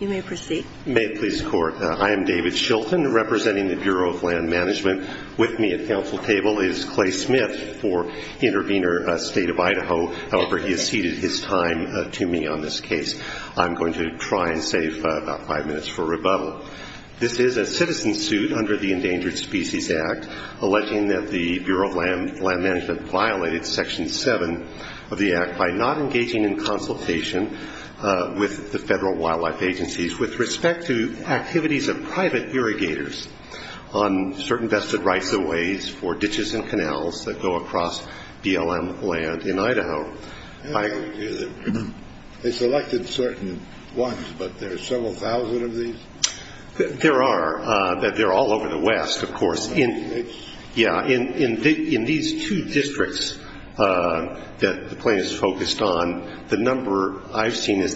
You may proceed. May it please the Court. I am David Shilton, representing the Bureau of Land Management. With me at counsel table is Clay Smith for Intervenor State of Idaho. However, he has ceded his time to me on this case. I'm going to try and save about five minutes for rebuttal. This is a citizen suit under the Endangered Species Act, alleging that the Federal Wildlife Agencies, with respect to activities of private irrigators on certain vested rights-of-ways for ditches and canals that go across BLM land in Idaho, I agree with you that they selected certain ones, but there are several thousand of these? There are. They're all over the West, of course. In these two districts that the plaintiffs focused on, the number I've seen, a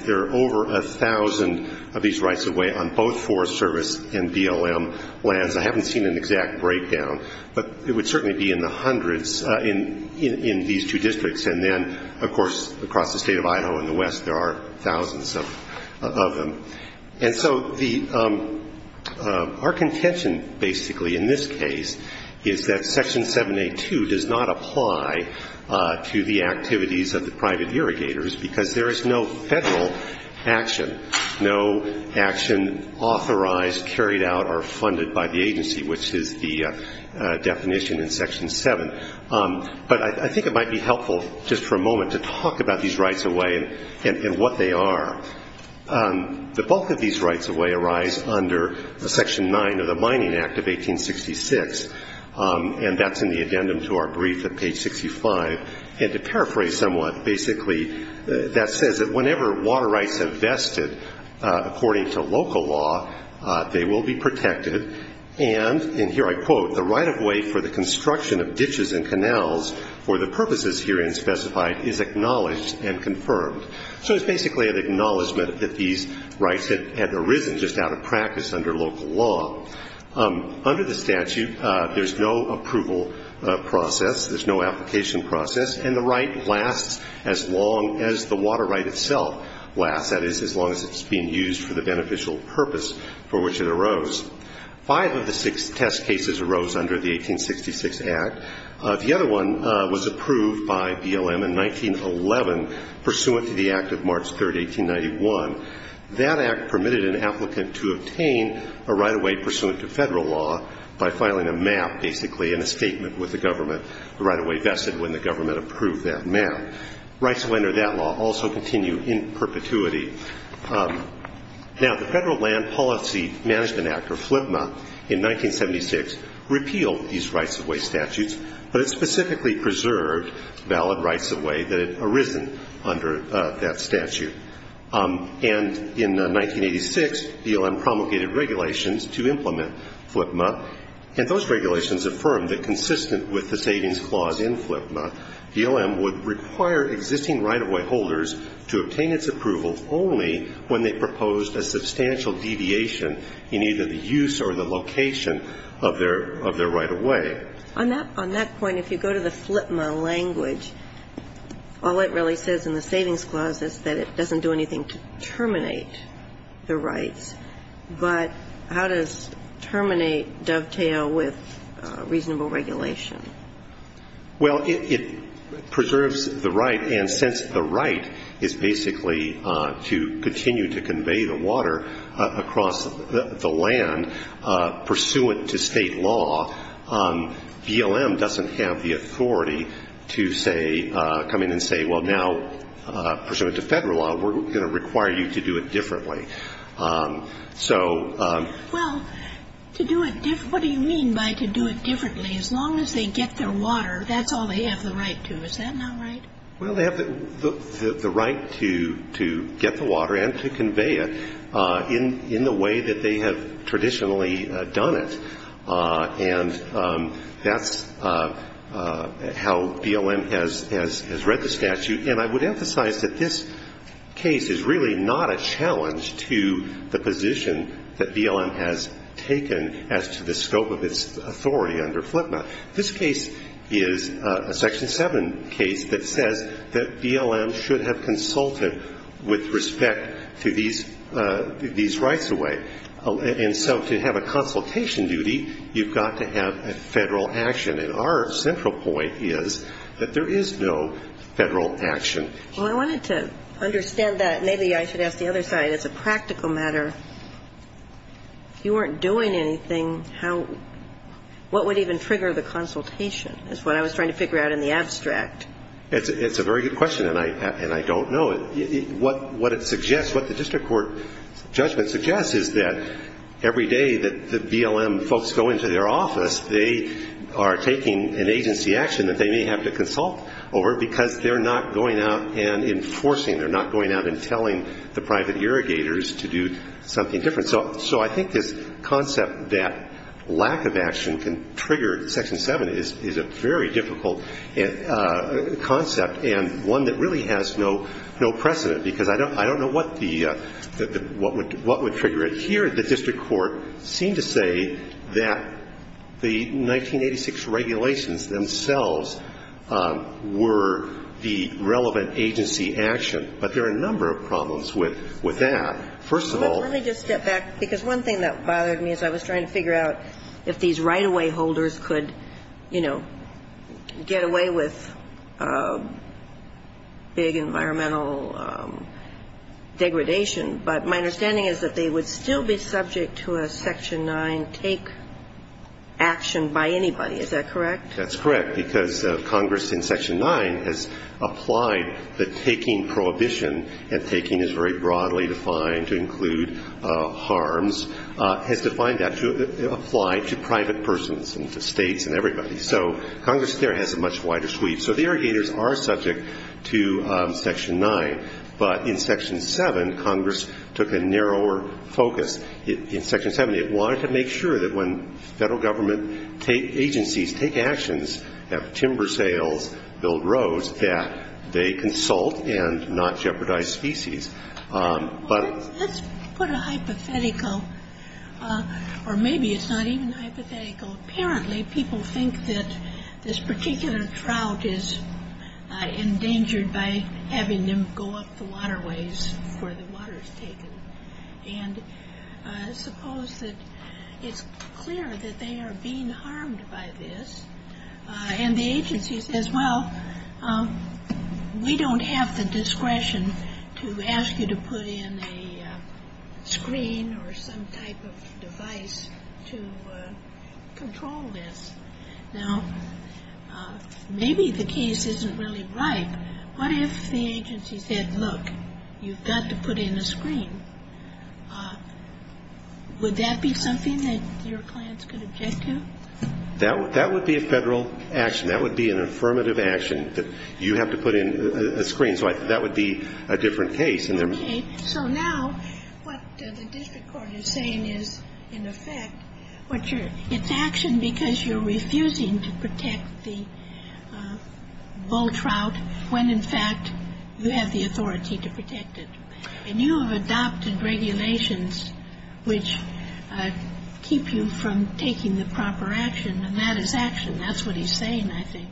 thousand of these rights-of-way on both Forest Service and BLM lands. I haven't seen an exact breakdown, but it would certainly be in the hundreds in these two districts. And then, of course, across the State of Idaho and the West, there are thousands of them. And so our contention, basically, in this case, is that Section 782 does not apply to the activities of the action. No action authorized, carried out, or funded by the agency, which is the definition in Section 7. But I think it might be helpful, just for a moment, to talk about these rights-of-way and what they are. The bulk of these rights-of-way arise under the Section 9 of the Mining Act of 1866, and that's in the addendum to our brief at page 65. And to paraphrase somewhat, basically, that says that whenever water rights have vested according to local law, they will be protected. And here I quote, the right-of-way for the construction of ditches and canals for the purposes herein specified is acknowledged and confirmed. So it's basically an acknowledgment that these rights had arisen just out of practice under local law. Under the statute, there's no approval process. There's no application process. And the right lasts as long as the water right itself lasts, that is, as long as it's being used for the beneficial purpose for which it arose. Five of the six test cases arose under the 1866 Act. The other one was approved by BLM in 1911 pursuant to the Act of March 3, 1891. That Act permitted an applicant to obtain a right-of-way pursuant to Federal law by filing a MAP, basically, in a statement with the government, the right-of-way vested when the government approved that MAP. Rights under that law also continue in perpetuity. Now, the Federal Land Policy Management Act, or FLIPMA, in 1976 repealed these rights-of-way statutes, but it specifically preserved valid rights-of-way that had arisen under that statute. And in 1986, BLM promulgated regulations to implement FLIPMA, and those regulations affirmed that consistent with the savings clause in FLIPMA, BLM would require existing right-of-way holders to obtain its approval only when they proposed a substantial deviation in either the use or the location of their right-of-way. On that point, if you go to the FLIPMA language, all it really says in the savings clause is that it doesn't do anything to terminate the rights. But how does terminate dovetail with reasonable regulation? Well, it preserves the right, and since the right is basically to continue to convey the water across the land pursuant to State law, BLM doesn't have the authority to say – come in and say, well, now, pursuant to Federal law, we're going to require you to do it differently. So – Well, to do it – what do you mean by to do it differently? As long as they get their water, that's all they have the right to. Is that not right? Well, they have the right to get the water and to convey it in the way that they have traditionally done it. And that's how BLM has read the statute. And I would emphasize that this case is really not a challenge to the position that BLM has taken as to the scope of its authority under FLIPMA. This case is a Section 7 case that says that BLM should have consulted with respect to these rights-of-way. And so to have a consultation duty, you've got to have a Federal action. And our central point is that there is no Federal action. Well, I wanted to understand that. Maybe I should ask the other side. It's a practical matter. If you weren't doing anything, how – what would even trigger the consultation is what I was trying to figure out in the abstract. It's a very good question, and I don't know. What it suggests – what the district court judgment suggests is that every day that BLM folks go into their office, they are taking an agency action that they may have to consult over because they're not going out and enforcing. They're not going out and telling the private irrigators to do something different. So I think this concept that lack of action can trigger Section 7 is a very difficult concept and one that really has no precedent, because I don't know what the – what would trigger it. Here, the district court seemed to say that the 1986 regulations themselves were the relevant agency action. But there are a number of problems with that. First of all – Because one thing that bothered me as I was trying to figure out if these right-of-way holders could, you know, get away with big environmental degradation. But my understanding is that they would still be subject to a Section 9 take action by anybody. Is that correct? That's correct, because Congress in Section 9 has applied the taking prohibition, and taking is very broadly defined to include harms, has defined that to apply to private persons and to states and everybody. So Congress there has a much wider sweep. So the irrigators are subject to Section 9, but in Section 7, Congress took a narrower focus. In Section 7, they wanted to make sure that when federal government agencies take actions, have timber sales, build roads, that they consult and not jeopardize species. Well, let's put a hypothetical – or maybe it's not even hypothetical. Apparently, people think that this particular trout is endangered by having them go up the waterways where the water is taken. And suppose that it's clear that they are being harmed by this, and the agency says, well, we don't have the discretion to ask you to put in a screen or some type of device to control this. Now, maybe the case isn't really right. What if the agency said, look, you've got to put in a screen? Would that be something that your clients could object to? That would be a federal action. That would be an affirmative action that you have to put in a screen. So that would be a different case. Okay. So now what the district court is saying is, in effect, it's action because you're refusing to protect the bull trout when, in fact, you have the authority to protect it. And you have adopted regulations which keep you from taking the proper action, and that is action. That's what he's saying, I think.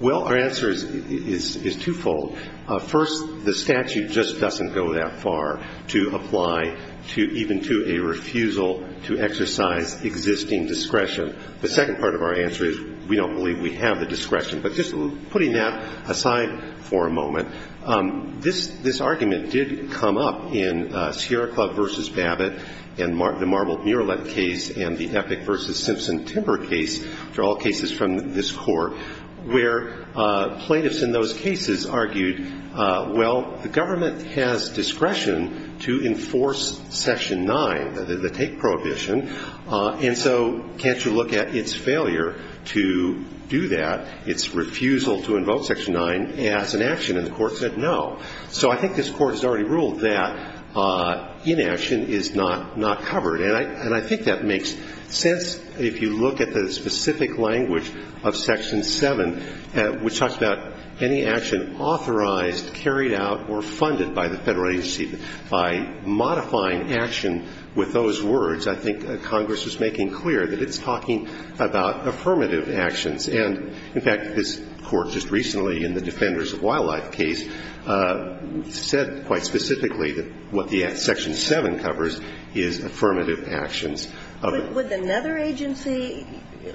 Well, our answer is twofold. First, the statute just doesn't go that far to apply to even to a refusal to exercise existing discretion. The second part of our answer is we don't believe we have the discretion. But just putting that aside for a moment, this argument did come up in Sierra Club v. Babbitt and the Marbled Muralet case and the Epic v. Simpson Timber case, for all cases from this court, where plaintiffs in those cases argued, well, the government has discretion to enforce Section 9, the take prohibition, and so can't you look at its failure to do that? Its refusal to invoke Section 9 as an action. And the Court said no. So I think this Court has already ruled that inaction is not covered. And I think that makes sense if you look at the specific language of Section 7, which talks about any action authorized, carried out, or funded by the Federal agency. By modifying action with those words, I think Congress is making clear that it's talking about affirmative actions. And, in fact, this Court just recently in the Defenders of Wildlife case said quite specifically that what the Section 7 covers is affirmative actions. With another agency,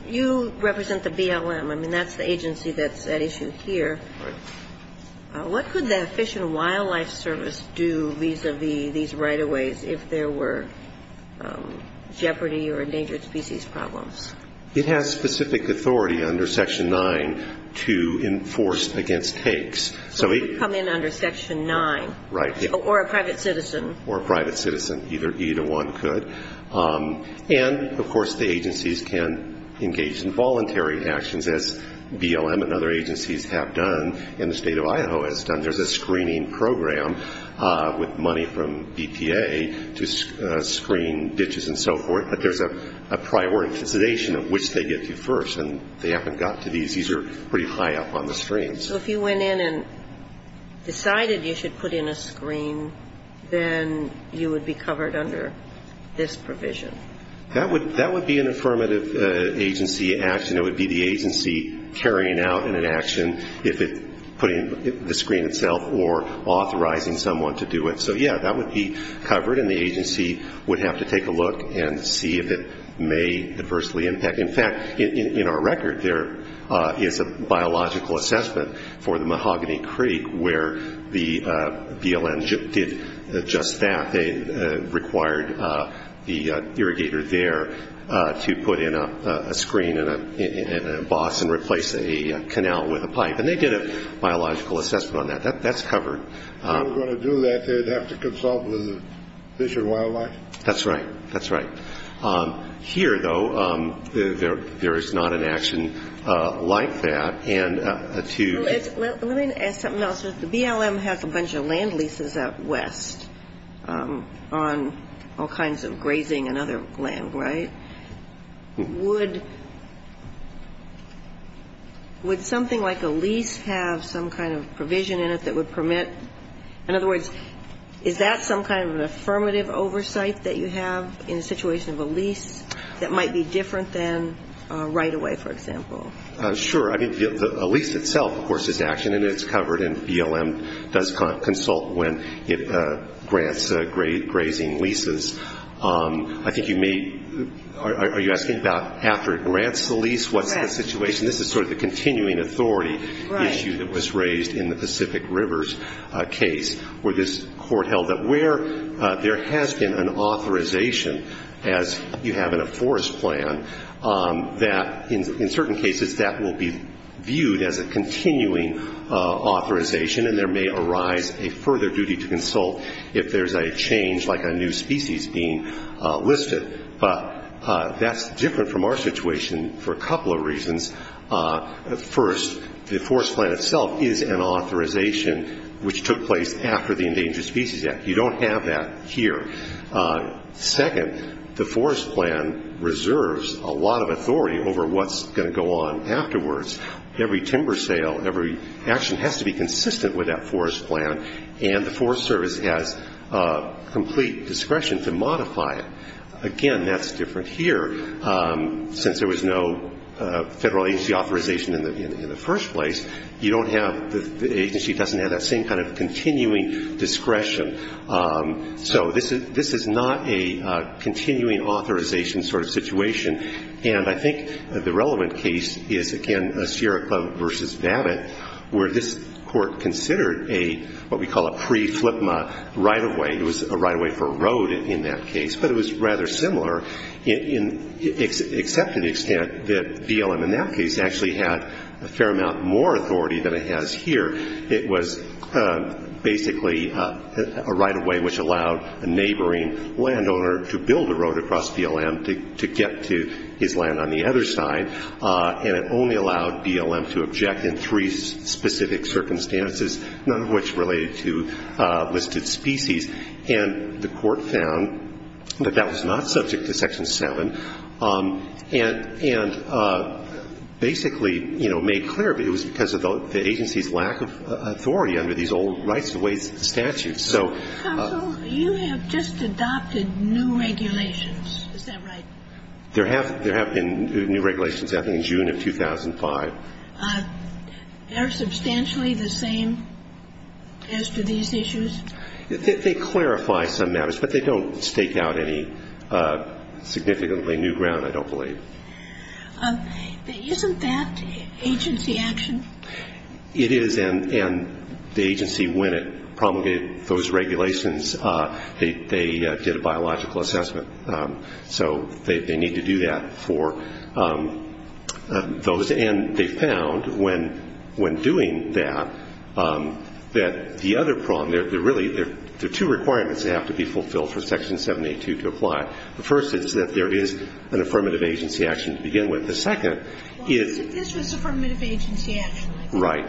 you represent the BLM. I mean, that's the agency that's at issue here. Right. What could the Fish and Wildlife Service do vis-à-vis these right-of-ways if there were jeopardy or endangered species problems? It has specific authority under Section 9 to enforce against takes. So it could come in under Section 9. Right. Or a private citizen. Or a private citizen. Either one could. And, of course, the agencies can engage in voluntary actions, as BLM and other agencies have done and the State of Idaho has done. There's a screening program with money from BPA to screen ditches and so forth. But there's a prior incantation of which they get to first. And they haven't gotten to these. These are pretty high up on the screen. So if you went in and decided you should put in a screen, then you would be covered under this provision? That would be an affirmative agency action. It would be the agency carrying out an action if it's putting the screen itself or authorizing someone to do it. So, yeah, that would be covered. And the agency would have to take a look and see if it may adversely impact. In fact, in our record, there is a biological assessment for the Mahogany Creek where the BLM did just that. They required the irrigator there to put in a screen and a boss and replace a canal with a pipe. And they did a biological assessment on that. That's covered. If they were going to do that, they would have to consult with Fish and Wildlife? That's right. That's right. Here, though, there is not an action like that. And to ‑‑ Let me ask something else. The BLM has a bunch of land leases out west on all kinds of grazing and other land, right? Would something like a lease have some kind of provision in it that would permit ‑‑ in other words, is that some kind of an affirmative oversight that you have in the situation of a lease that might be different than right away, for example? Sure. I mean, a lease itself, of course, is action, and it's covered. And BLM does consult when it grants grazing leases. I think you may ‑‑ are you asking about after it grants the lease? Correct. What's the situation? This is sort of the continuing authority issue that was raised in the Pacific Rivers case where this court held that where there has been an authorization, as you have in a forest plan, that in certain cases that will be viewed as a continuing authorization, and there may arise a further duty to consult if there's a change like a new species being listed. But that's different from our situation for a couple of reasons. First, the forest plan itself is an authorization which took place after the Endangered Species Act. You don't have that here. Second, the forest plan reserves a lot of authority over what's going to go on afterwards. Every timber sale, every action has to be consistent with that forest plan, and the Forest Service has complete discretion to modify it. Again, that's different here. Since there was no federal agency authorization in the first place, you don't have ‑‑ the agency doesn't have that same kind of continuing discretion. So this is not a continuing authorization sort of situation, and I think the relevant case is, again, Sierra Club v. Navit, where this court considered what we call a pre‑FLIPMA right-of-way. It was a right-of-way for a road in that case, but it was rather similar, except to the extent that BLM in that case actually had a fair amount more authority than it has here. It was basically a right-of-way which allowed a neighboring landowner to build a road across BLM to get to his land on the other side, and it only allowed BLM to object in three specific circumstances, none of which related to listed species. And the court found that that was not subject to Section 7, and basically, you know, made clear that it was because of the agency's lack of authority under these old rights-of-ways statutes. So ‑‑ Counsel, you have just adopted new regulations. Is that right? There have been new regulations, I think, in June of 2005. They're substantially the same as to these issues? They clarify some matters, but they don't stake out any significantly new ground, I don't believe. Isn't that agency action? It is, and the agency, when it promulgated those regulations, they did a biological assessment. So they need to do that for those. And they found, when doing that, that the other problem, there are really two requirements that have to be fulfilled for Section 782 to apply. The first is that there is an affirmative agency action to begin with. The second is ‑‑ Well, I said this was affirmative agency action. Right.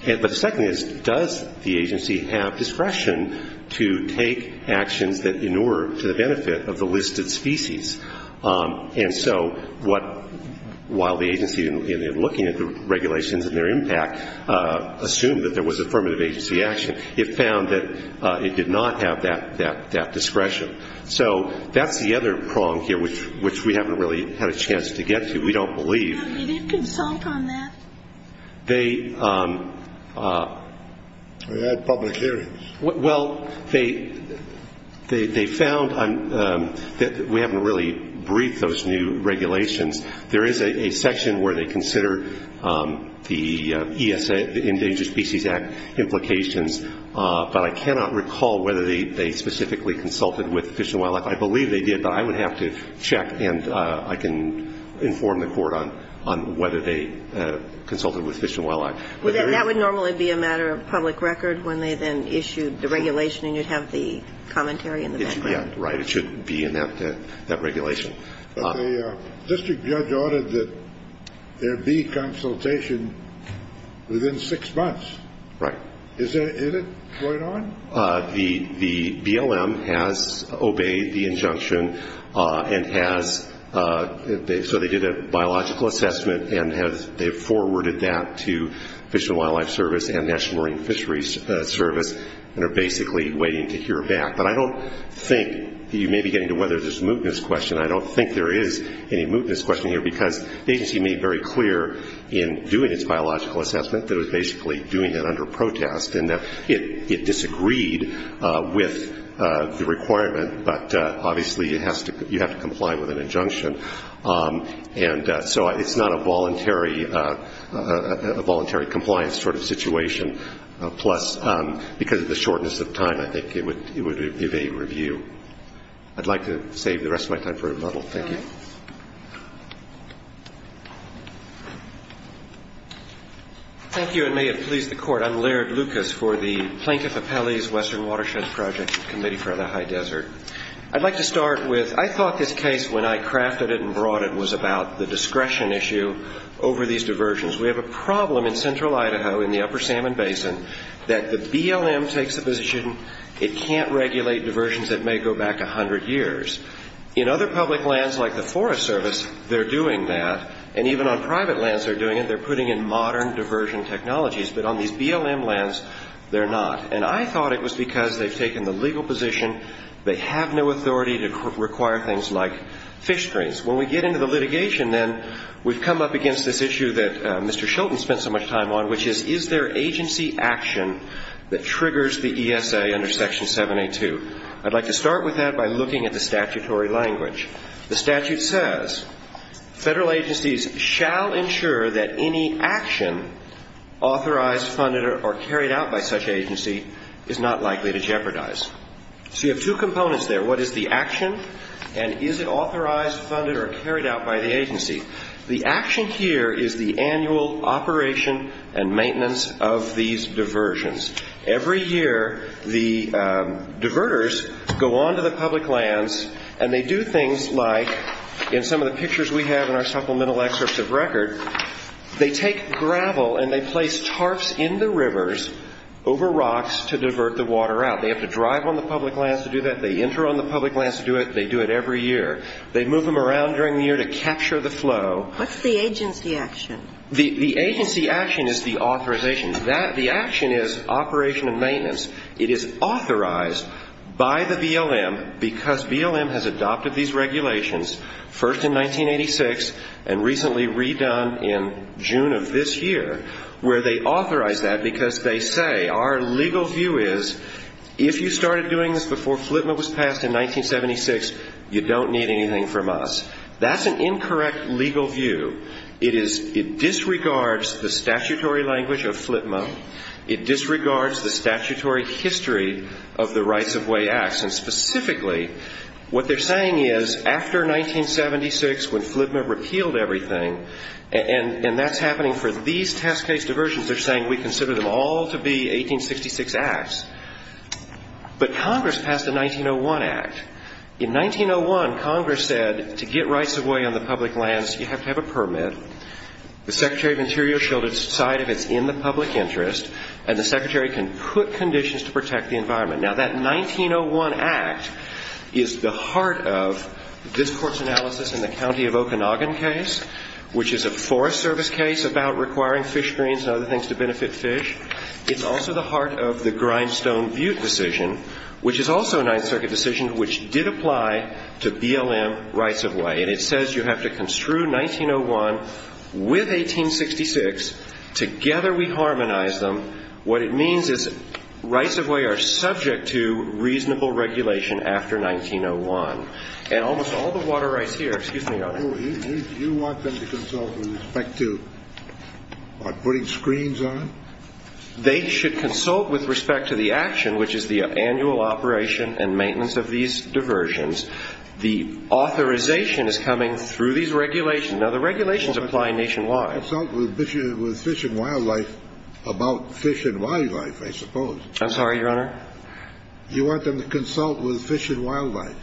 Okay. But the second is, does the agency have discretion to take actions that inure to the benefit of the listed species? And so while the agency, in looking at the regulations and their impact, assumed that there was affirmative agency action, it found that it did not have that discretion. So that's the other prong here, which we haven't really had a chance to get to. We don't believe. Did you consult on that? We had public hearings. Well, they found, we haven't really briefed those new regulations. There is a section where they consider the Endangered Species Act implications, but I cannot recall whether they specifically consulted with Fish and Wildlife. I believe they did, but I would have to check, and I can inform the Court on whether they consulted with Fish and Wildlife. That would normally be a matter of public record when they then issued the regulation, and you'd have the commentary in the background. Right. It should be in that regulation. But the district judge ordered that there be consultation within six months. Right. Is it going on? The BLM has obeyed the injunction and has, so they did a biological assessment and they've forwarded that to Fish and Wildlife Service and National Marine Fisheries Service and are basically waiting to hear back. But I don't think, you may be getting to whether there's a mootness question, I don't think there is any mootness question here, because the agency made very clear in doing its biological assessment that it was basically doing it under protest and that it disagreed with the requirement, but obviously you have to comply with an injunction. And so it's not a voluntary compliance sort of situation, plus because of the shortness of time I think it would evade review. I'd like to save the rest of my time for a rebuttal. Thank you. Thank you, and may it please the Court. I'm Laird Lucas for the Plaintiff Appellee's Western Watershed Project Committee for the High Desert. I'd like to start with I thought this case, when I crafted it and brought it, was about the discretion issue over these diversions. We have a problem in central Idaho in the upper Salmon Basin that the BLM takes the position it can't regulate diversions that may go back 100 years. In other public lands, like the Forest Service, they're doing that, and even on private lands they're doing it, they're putting in modern diversion technologies. But on these BLM lands, they're not. And I thought it was because they've taken the legal position, they have no authority to require things like fish screens. When we get into the litigation, then, we've come up against this issue that Mr. Shilton spent so much time on, which is, is there agency action that triggers the ESA under Section 782? I'd like to start with that by looking at the statutory language. The statute says, Federal agencies shall ensure that any action authorized, funded, or carried out by such agency is not likely to jeopardize. So you have two components there. What is the action, and is it authorized, funded, or carried out by the agency? The action here is the annual operation and maintenance of these diversions. Every year, the diverters go onto the public lands and they do things like, in some of the pictures we have in our supplemental excerpts of record, they take gravel and they place tarps in the rivers over rocks to divert the water out. They have to drive on the public lands to do that, they enter on the public lands to do it, they do it every year. They move them around during the year to capture the flow. What's the agency action? The agency action is the authorization. The action is operation and maintenance. It is authorized by the BLM because BLM has adopted these regulations, first in 1986 and recently redone in June of this year, where they authorize that because they say, our legal view is if you started doing this before FLTMA was passed in 1976, you don't need anything from us. That's an incorrect legal view. It disregards the statutory language of FLTMA. It disregards the statutory history of the Rights-of-Way Act. And specifically, what they're saying is after 1976, when FLTMA repealed everything, and that's happening for these test case diversions, they're saying we consider them all to be 1866 acts. But Congress passed the 1901 Act. In 1901, Congress said to get rights-of-way on the public lands, you have to have a permit. The Secretary of Interior shall decide if it's in the public interest, and the Secretary can put conditions to protect the environment. Now, that 1901 Act is the heart of this Court's analysis in the County of Okanagan case, which is a Forest Service case about requiring fish greens and other things to benefit fish. It's also the heart of the Grindstone Butte decision, which is also a Ninth Circuit decision which did apply to BLM rights-of-way. And it says you have to construe 1901 with 1866. Together we harmonize them. What it means is rights-of-way are subject to reasonable regulation after 1901. And almost all the water rights here – excuse me, Your Honor. So you want them to consult with respect to putting screens on? They should consult with respect to the action, which is the annual operation and maintenance of these diversions. The authorization is coming through these regulations. Now, the regulations apply nationwide. Consult with Fish and Wildlife about Fish and Wildlife, I suppose. I'm sorry, Your Honor? You want them to consult with Fish and Wildlife?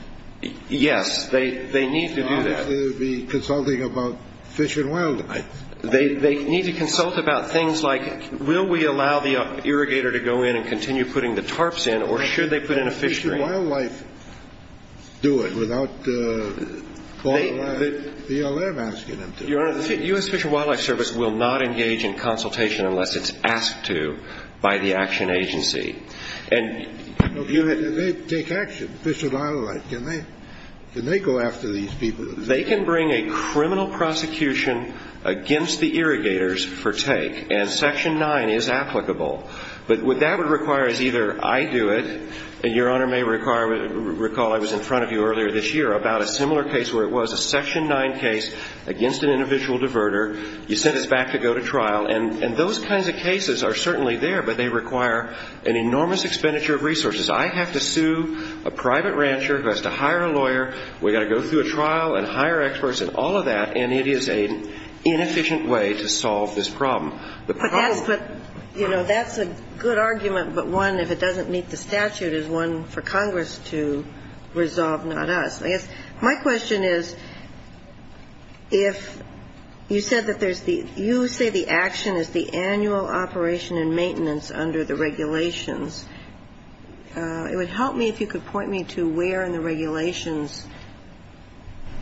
Yes, they need to do that. They should be consulting about Fish and Wildlife. They need to consult about things like, will we allow the irrigator to go in and continue putting the tarps in, or should they put in a fish green? Fish and Wildlife do it without BLM asking them to. Your Honor, the U.S. Fish and Wildlife Service will not engage in consultation unless it's asked to by the action agency. They take action, Fish and Wildlife. Can they go after these people? They can bring a criminal prosecution against the irrigators for take, and Section 9 is applicable. But what that would require is either I do it, and Your Honor may recall I was in front of you earlier this year, about a similar case where it was a Section 9 case against an individual diverter. You sent us back to go to trial. And those kinds of cases are certainly there, but they require an enormous expenditure of resources. I have to sue a private rancher who has to hire a lawyer. We've got to go through a trial and hire experts and all of that, and it is an inefficient way to solve this problem. But that's what, you know, that's a good argument, but one, if it doesn't meet the statute, is one for Congress to resolve, not us. My question is if you said that there's the you say the action is the annual operation and maintenance under the regulations. It would help me if you could point me to where in the regulations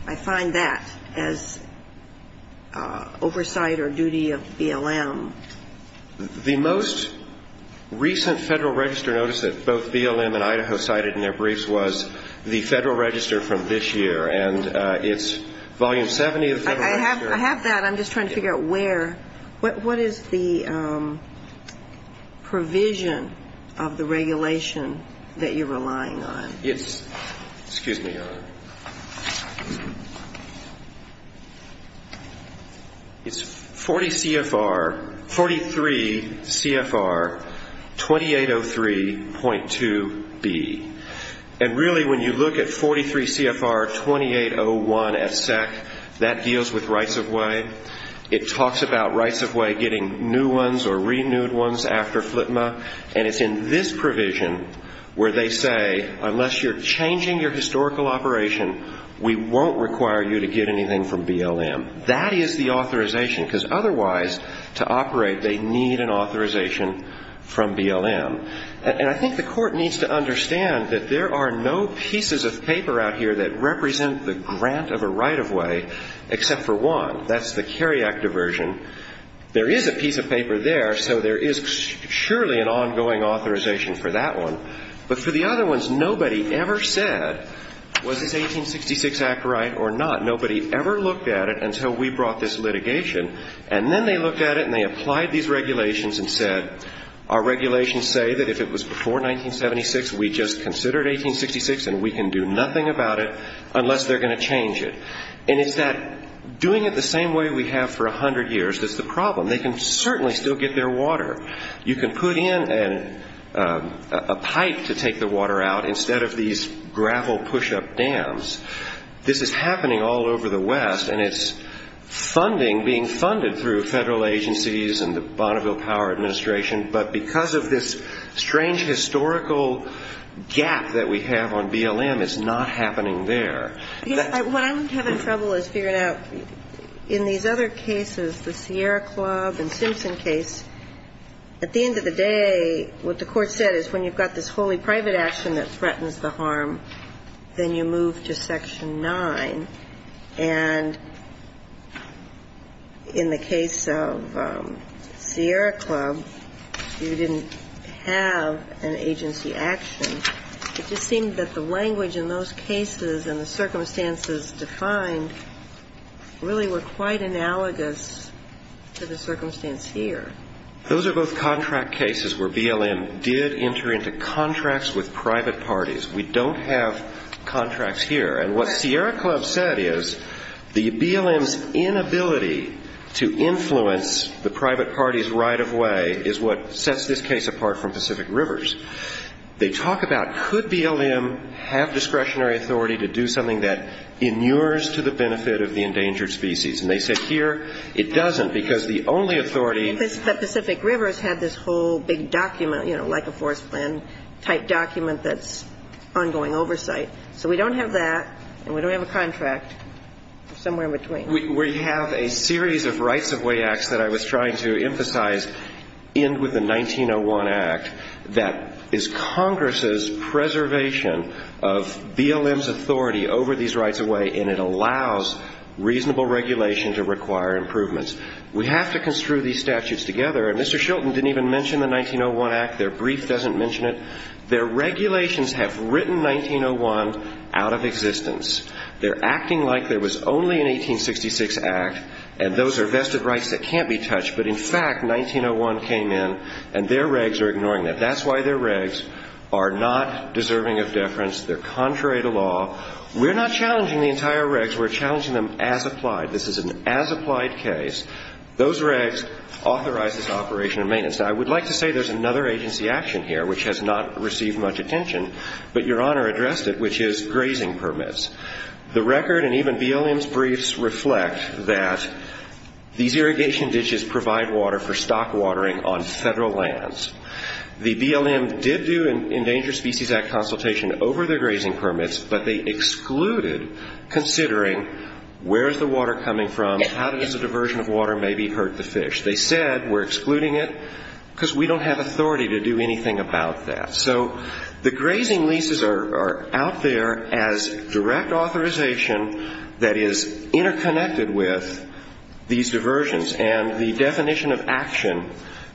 I find that as oversight or duty of BLM. The most recent Federal Register notice that both BLM and Idaho cited in their briefs was the Federal Register from this year. And it's Volume 70 of the Federal Register. I have that. I'm just trying to figure out where. What is the provision of the regulation that you're relying on? Excuse me, Your Honor. It's 43 CFR 2803.2B. And really, when you look at 43 CFR 2801 at SEC, that deals with rights of way. It talks about rights of way getting new ones or renewed ones after FLTMA, and it's in this provision where they say unless you're changing your historical operation, we won't require you to get anything from BLM. That is the authorization, because otherwise, to operate, they need an authorization from BLM. And I think the Court needs to understand that there are no pieces of paper out here that represent the grant of a right of way, except for one. That's the CARIAC diversion. There is a piece of paper there, so there is surely an ongoing authorization for that one. But for the other ones, nobody ever said, was this 1866 Act right or not? Nobody ever looked at it until we brought this litigation. And then they looked at it and they applied these regulations and said, our regulations say that if it was before 1976, we just considered 1866, and we can do nothing about it unless they're going to change it. And it's that doing it the same way we have for 100 years is the problem. They can certainly still get their water. You can put in a pipe to take the water out instead of these gravel push-up dams. This is happening all over the West, and it's funding, being funded through federal agencies and the Bonneville Power Administration, but because of this strange historical gap that we have on BLM, it's not happening there. What I'm having trouble is figuring out, in these other cases, the Sierra Club and Simpson case, at the end of the day, what the Court said is when you've got this wholly private action that threatens the harm, then you move to Section 9. And in the case of Sierra Club, you didn't have an agency action. It just seemed that the language in those cases and the circumstances defined really were quite analogous to the circumstance here. Those are both contract cases where BLM did enter into contracts with private parties. We don't have contracts here. And what Sierra Club said is the BLM's inability to influence the private parties right of way is what sets this case apart from Pacific Rivers. They talk about could BLM have discretionary authority to do something that inures to the benefit of the endangered species. And they said here it doesn't, because the only authority ‑‑ But Pacific Rivers had this whole big document, you know, like a forest plan type document that's ongoing oversight. So we don't have that, and we don't have a contract, somewhere in between. Well, we have a series of rights of way acts that I was trying to emphasize end with the 1901 Act that is Congress's preservation of BLM's authority over these rights of way, and it allows reasonable regulation to require improvements. We have to construe these statutes together. And Mr. Shilton didn't even mention the 1901 Act. Their brief doesn't mention it. Their regulations have written 1901 out of existence. They're acting like there was only an 1866 Act, and those are vested rights that can't be touched. But in fact, 1901 came in, and their regs are ignoring that. That's why their regs are not deserving of deference. They're contrary to law. We're not challenging the entire regs. We're challenging them as applied. This is an as applied case. Those regs authorize this operation of maintenance. Now, I would like to say there's another agency action here which has not received much attention, but Your Honor addressed it, which is grazing permits. The record and even BLM's briefs reflect that these irrigation ditches provide water for stock watering on federal lands. The BLM did do an Endangered Species Act consultation over their grazing permits, but they excluded considering where is the water coming from, how does a diversion of water maybe hurt the fish. They said we're excluding it because we don't have authority to do anything about that. So the grazing leases are out there as direct authorization that is interconnected with these diversions, and the definition of action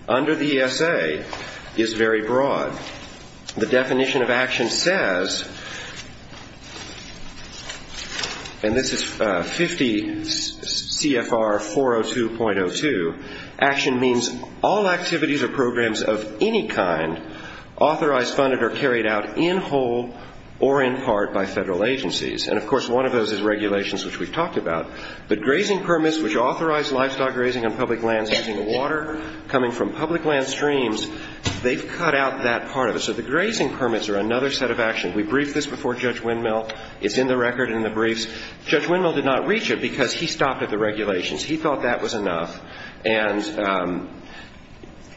under the ESA is very broad. The definition of action says, and this is 50 CFR 402.02, action means all activities or programs of any kind authorized, funded, or carried out in whole or in part by federal agencies. And, of course, one of those is regulations, which we've talked about. The grazing permits, which authorize livestock grazing on public lands using water coming from public land streams, they've cut out that part of it. So the grazing permits are another set of action. We briefed this before Judge Windmill. It's in the record and in the briefs. Judge Windmill did not reach it because he stopped at the regulations. He thought that was enough. And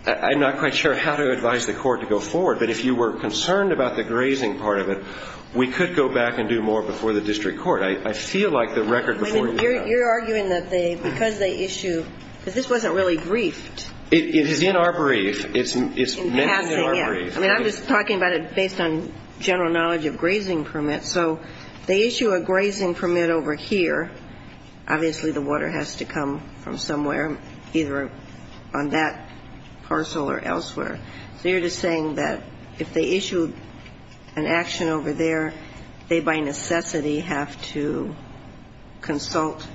I'm not quite sure how to advise the court to go forward, but if you were concerned about the grazing part of it, we could go back and do more before the district court. I feel like the record before you. You're arguing that because they issue, because this wasn't really briefed. It is in our brief. It's mentioned in our brief. I mean, I'm just talking about it based on general knowledge of grazing permits. So they issue a grazing permit over here. Obviously the water has to come from somewhere, either on that parcel or elsewhere. So you're just saying that if they issued an action over there, they by necessity have to consult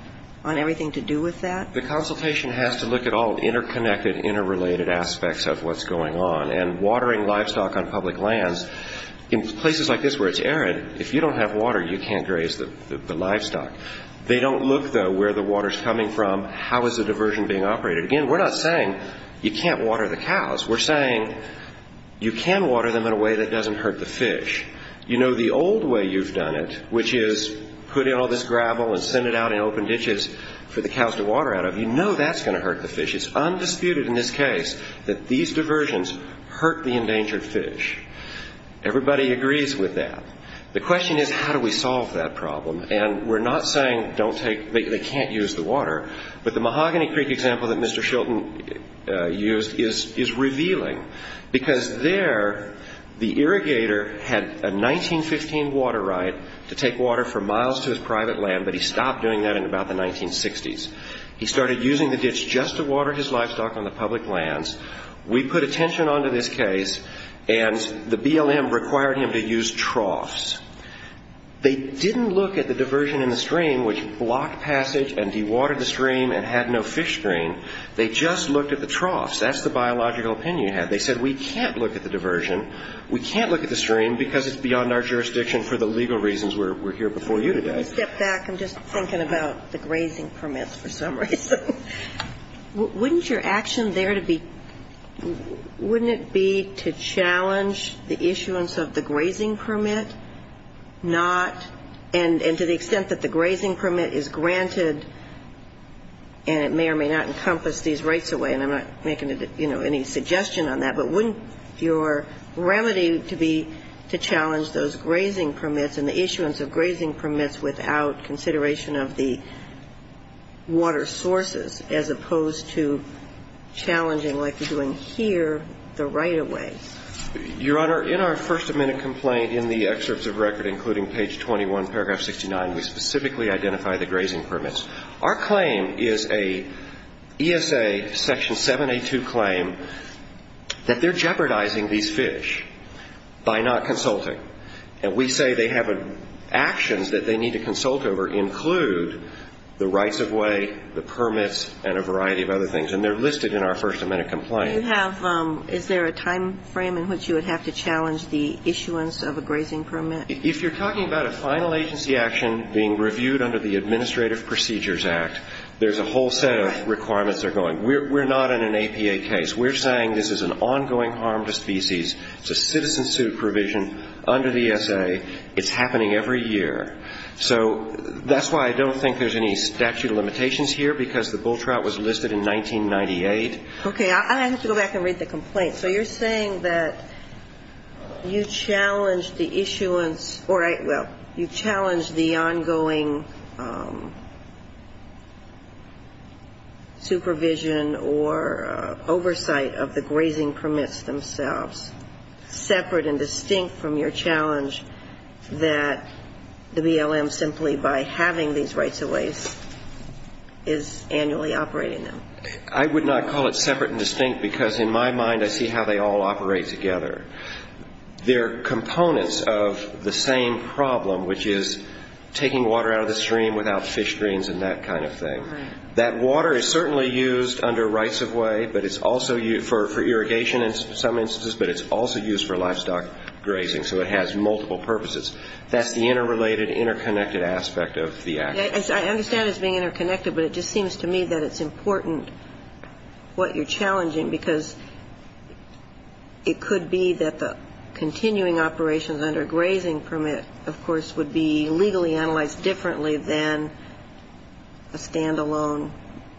on everything to do with that? The consultation has to look at all interconnected, interrelated aspects of what's going on. And watering livestock on public lands in places like this where it's arid, if you don't have water, you can't graze the livestock. They don't look, though, where the water's coming from. How is the diversion being operated? Again, we're not saying you can't water the cows. We're saying you can water them in a way that doesn't hurt the fish. You know the old way you've done it, which is put in all this gravel and send it out in open ditches for the cows to water out of. You know that's going to hurt the fish. It's undisputed in this case that these diversions hurt the endangered fish. Everybody agrees with that. The question is how do we solve that problem? And we're not saying they can't use the water, but the Mahogany Creek example that Mr. Shilton used is revealing because there the irrigator had a 1915 water right to take water for miles to his private land, but he stopped doing that in about the 1960s. He started using the ditch just to water his livestock on the public lands. We put attention onto this case, and the BLM required him to use troughs. They didn't look at the diversion in the stream, which blocked passage and dewatered the stream and had no fish stream. They just looked at the troughs. That's the biological opinion you have. They said we can't look at the diversion, we can't look at the stream because it's beyond our jurisdiction for the legal reasons we're here before you today. Let me step back. I'm just thinking about the grazing permits for some reason. Wouldn't your action there to be – wouldn't it be to challenge the issuance of the grazing permit, not – and to the extent that the grazing permit is granted and it may or may not encompass these rights away, and I'm not making any suggestion on that, but wouldn't your remedy to be to challenge those grazing permits and the issuance of grazing permits without consideration of the water sources as opposed to challenging, like we're doing here, the right of way? Your Honor, in our first amendment complaint in the excerpts of record, including page 21, paragraph 69, we specifically identify the grazing permits. Our claim is a ESA section 782 claim that they're jeopardizing these fish by not consulting. And we say they have actions that they need to consult over, include the rights of way, the permits, and a variety of other things. And they're listed in our first amendment complaint. Do you have – is there a timeframe in which you would have to challenge the issuance of a grazing permit? If you're talking about a final agency action being reviewed under the Administrative Procedures Act, there's a whole set of requirements that are going. We're not in an APA case. We're saying this is an ongoing harm to species. It's a citizen supervision under the ESA. It's happening every year. So that's why I don't think there's any statute of limitations here, because the bull trout was listed in 1998. Okay. I have to go back and read the complaint. So you're saying that you challenge the issuance or, well, you challenge the ongoing supervision or oversight of the grazing permits themselves, separate and distinct from your challenge that the BLM, simply by having these rights of ways, is annually operating them. I would not call it separate and distinct, because in my mind I see how they all operate together. They're components of the same problem, which is taking water out of the stream without fish drains and that kind of thing. Right. That water is certainly used under rights of way, but it's also used for irrigation in some instances, but it's also used for livestock grazing. So it has multiple purposes. That's the interrelated, interconnected aspect of the action. I understand it's being interconnected, but it just seems to me that it's important what you're challenging, because it could be that the continuing operations under a grazing permit, of course, would be legally analyzed differently than a standalone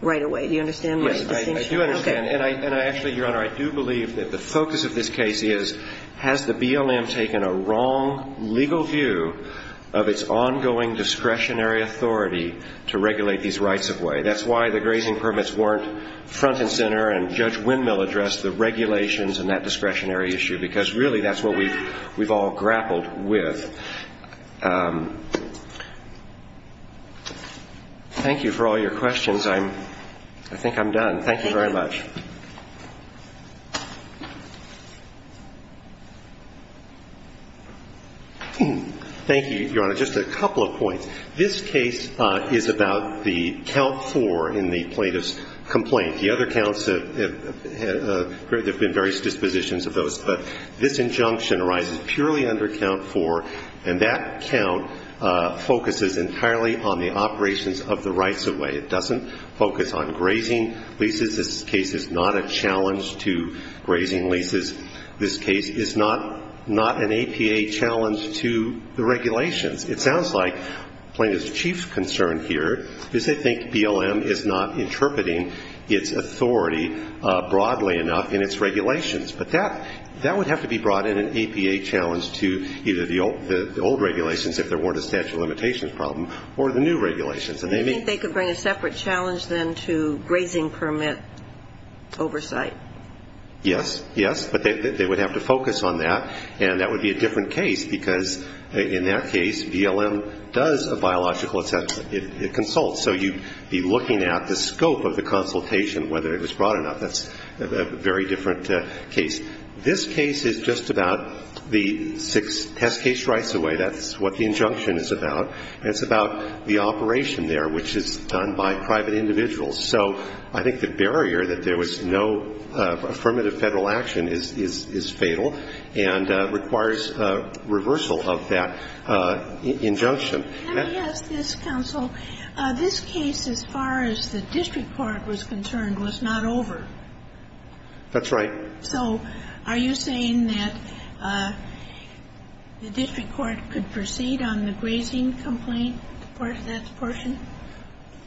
right of way. Do you understand my distinction? Yes, I do understand. And I actually, Your Honor, I do believe that the focus of this case is has the BLM taken a wrong legal view of its ongoing discretionary authority to regulate these rights of way? That's why the grazing permits weren't front and center, and Judge Windmill addressed the regulations and that discretionary issue, because really that's what we've all grappled with. Thank you for all your questions. I think I'm done. Thank you very much. Thank you, Your Honor. Just a couple of points. This case is about the count four in the plaintiff's complaint. The other counts have been various dispositions of those, but this injunction arises purely under count four, and that count focuses entirely on the operations of the rights of way. It doesn't focus on grazing leases. This case is not a challenge to grazing leases. This case is not an APA challenge to the regulations. It sounds like the plaintiff's chief concern here is they think BLM is not interpreting its authority broadly enough in its regulations. But that would have to be brought in an APA challenge to either the old regulations if there weren't a statute of limitations problem or the new regulations. Do you think they could bring a separate challenge then to grazing permit oversight? Yes. Yes. But they would have to focus on that, and that would be a different case, because in that case BLM does a biological assessment. It consults. So you'd be looking at the scope of the consultation, whether it was broad enough. That's a very different case. This case is just about the six test case rights of way. That's what the injunction is about. It's about the operation there, which is done by private individuals. So I think the barrier that there was no affirmative Federal action is fatal and requires reversal of that injunction. Let me ask this, counsel. This case, as far as the district court was concerned, was not over. That's right. So are you saying that the district court could proceed on the grazing complaint for that portion?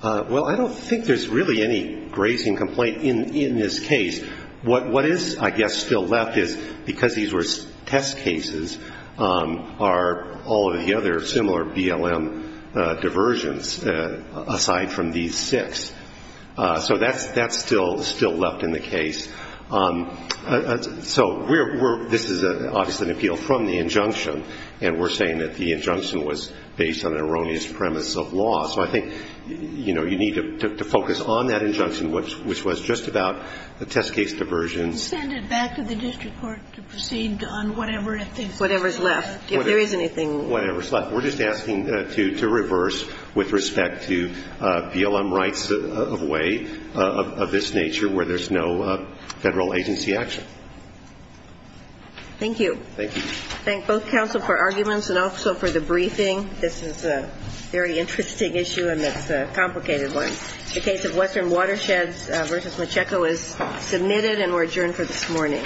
Well, I don't think there's really any grazing complaint in this case. What is, I guess, still left is, because these were test cases, are all of the other similar BLM diversions aside from these six. So that's still left in the case. So this is obviously an appeal from the injunction, and we're saying that the injunction was based on an erroneous premise of law. So I think, you know, you need to focus on that injunction, which was just about the test case diversions. Send it back to the district court to proceed on whatever is left, if there is anything. Whatever is left. We're just asking to reverse with respect to BLM rights of way of this nature, where there's no federal agency action. Thank you. Thank you. Thank both counsel for arguments and also for the briefing. This is a very interesting issue, and it's a complicated one. The case of Western Watersheds v. Macheco is submitted, and we're adjourned for this morning.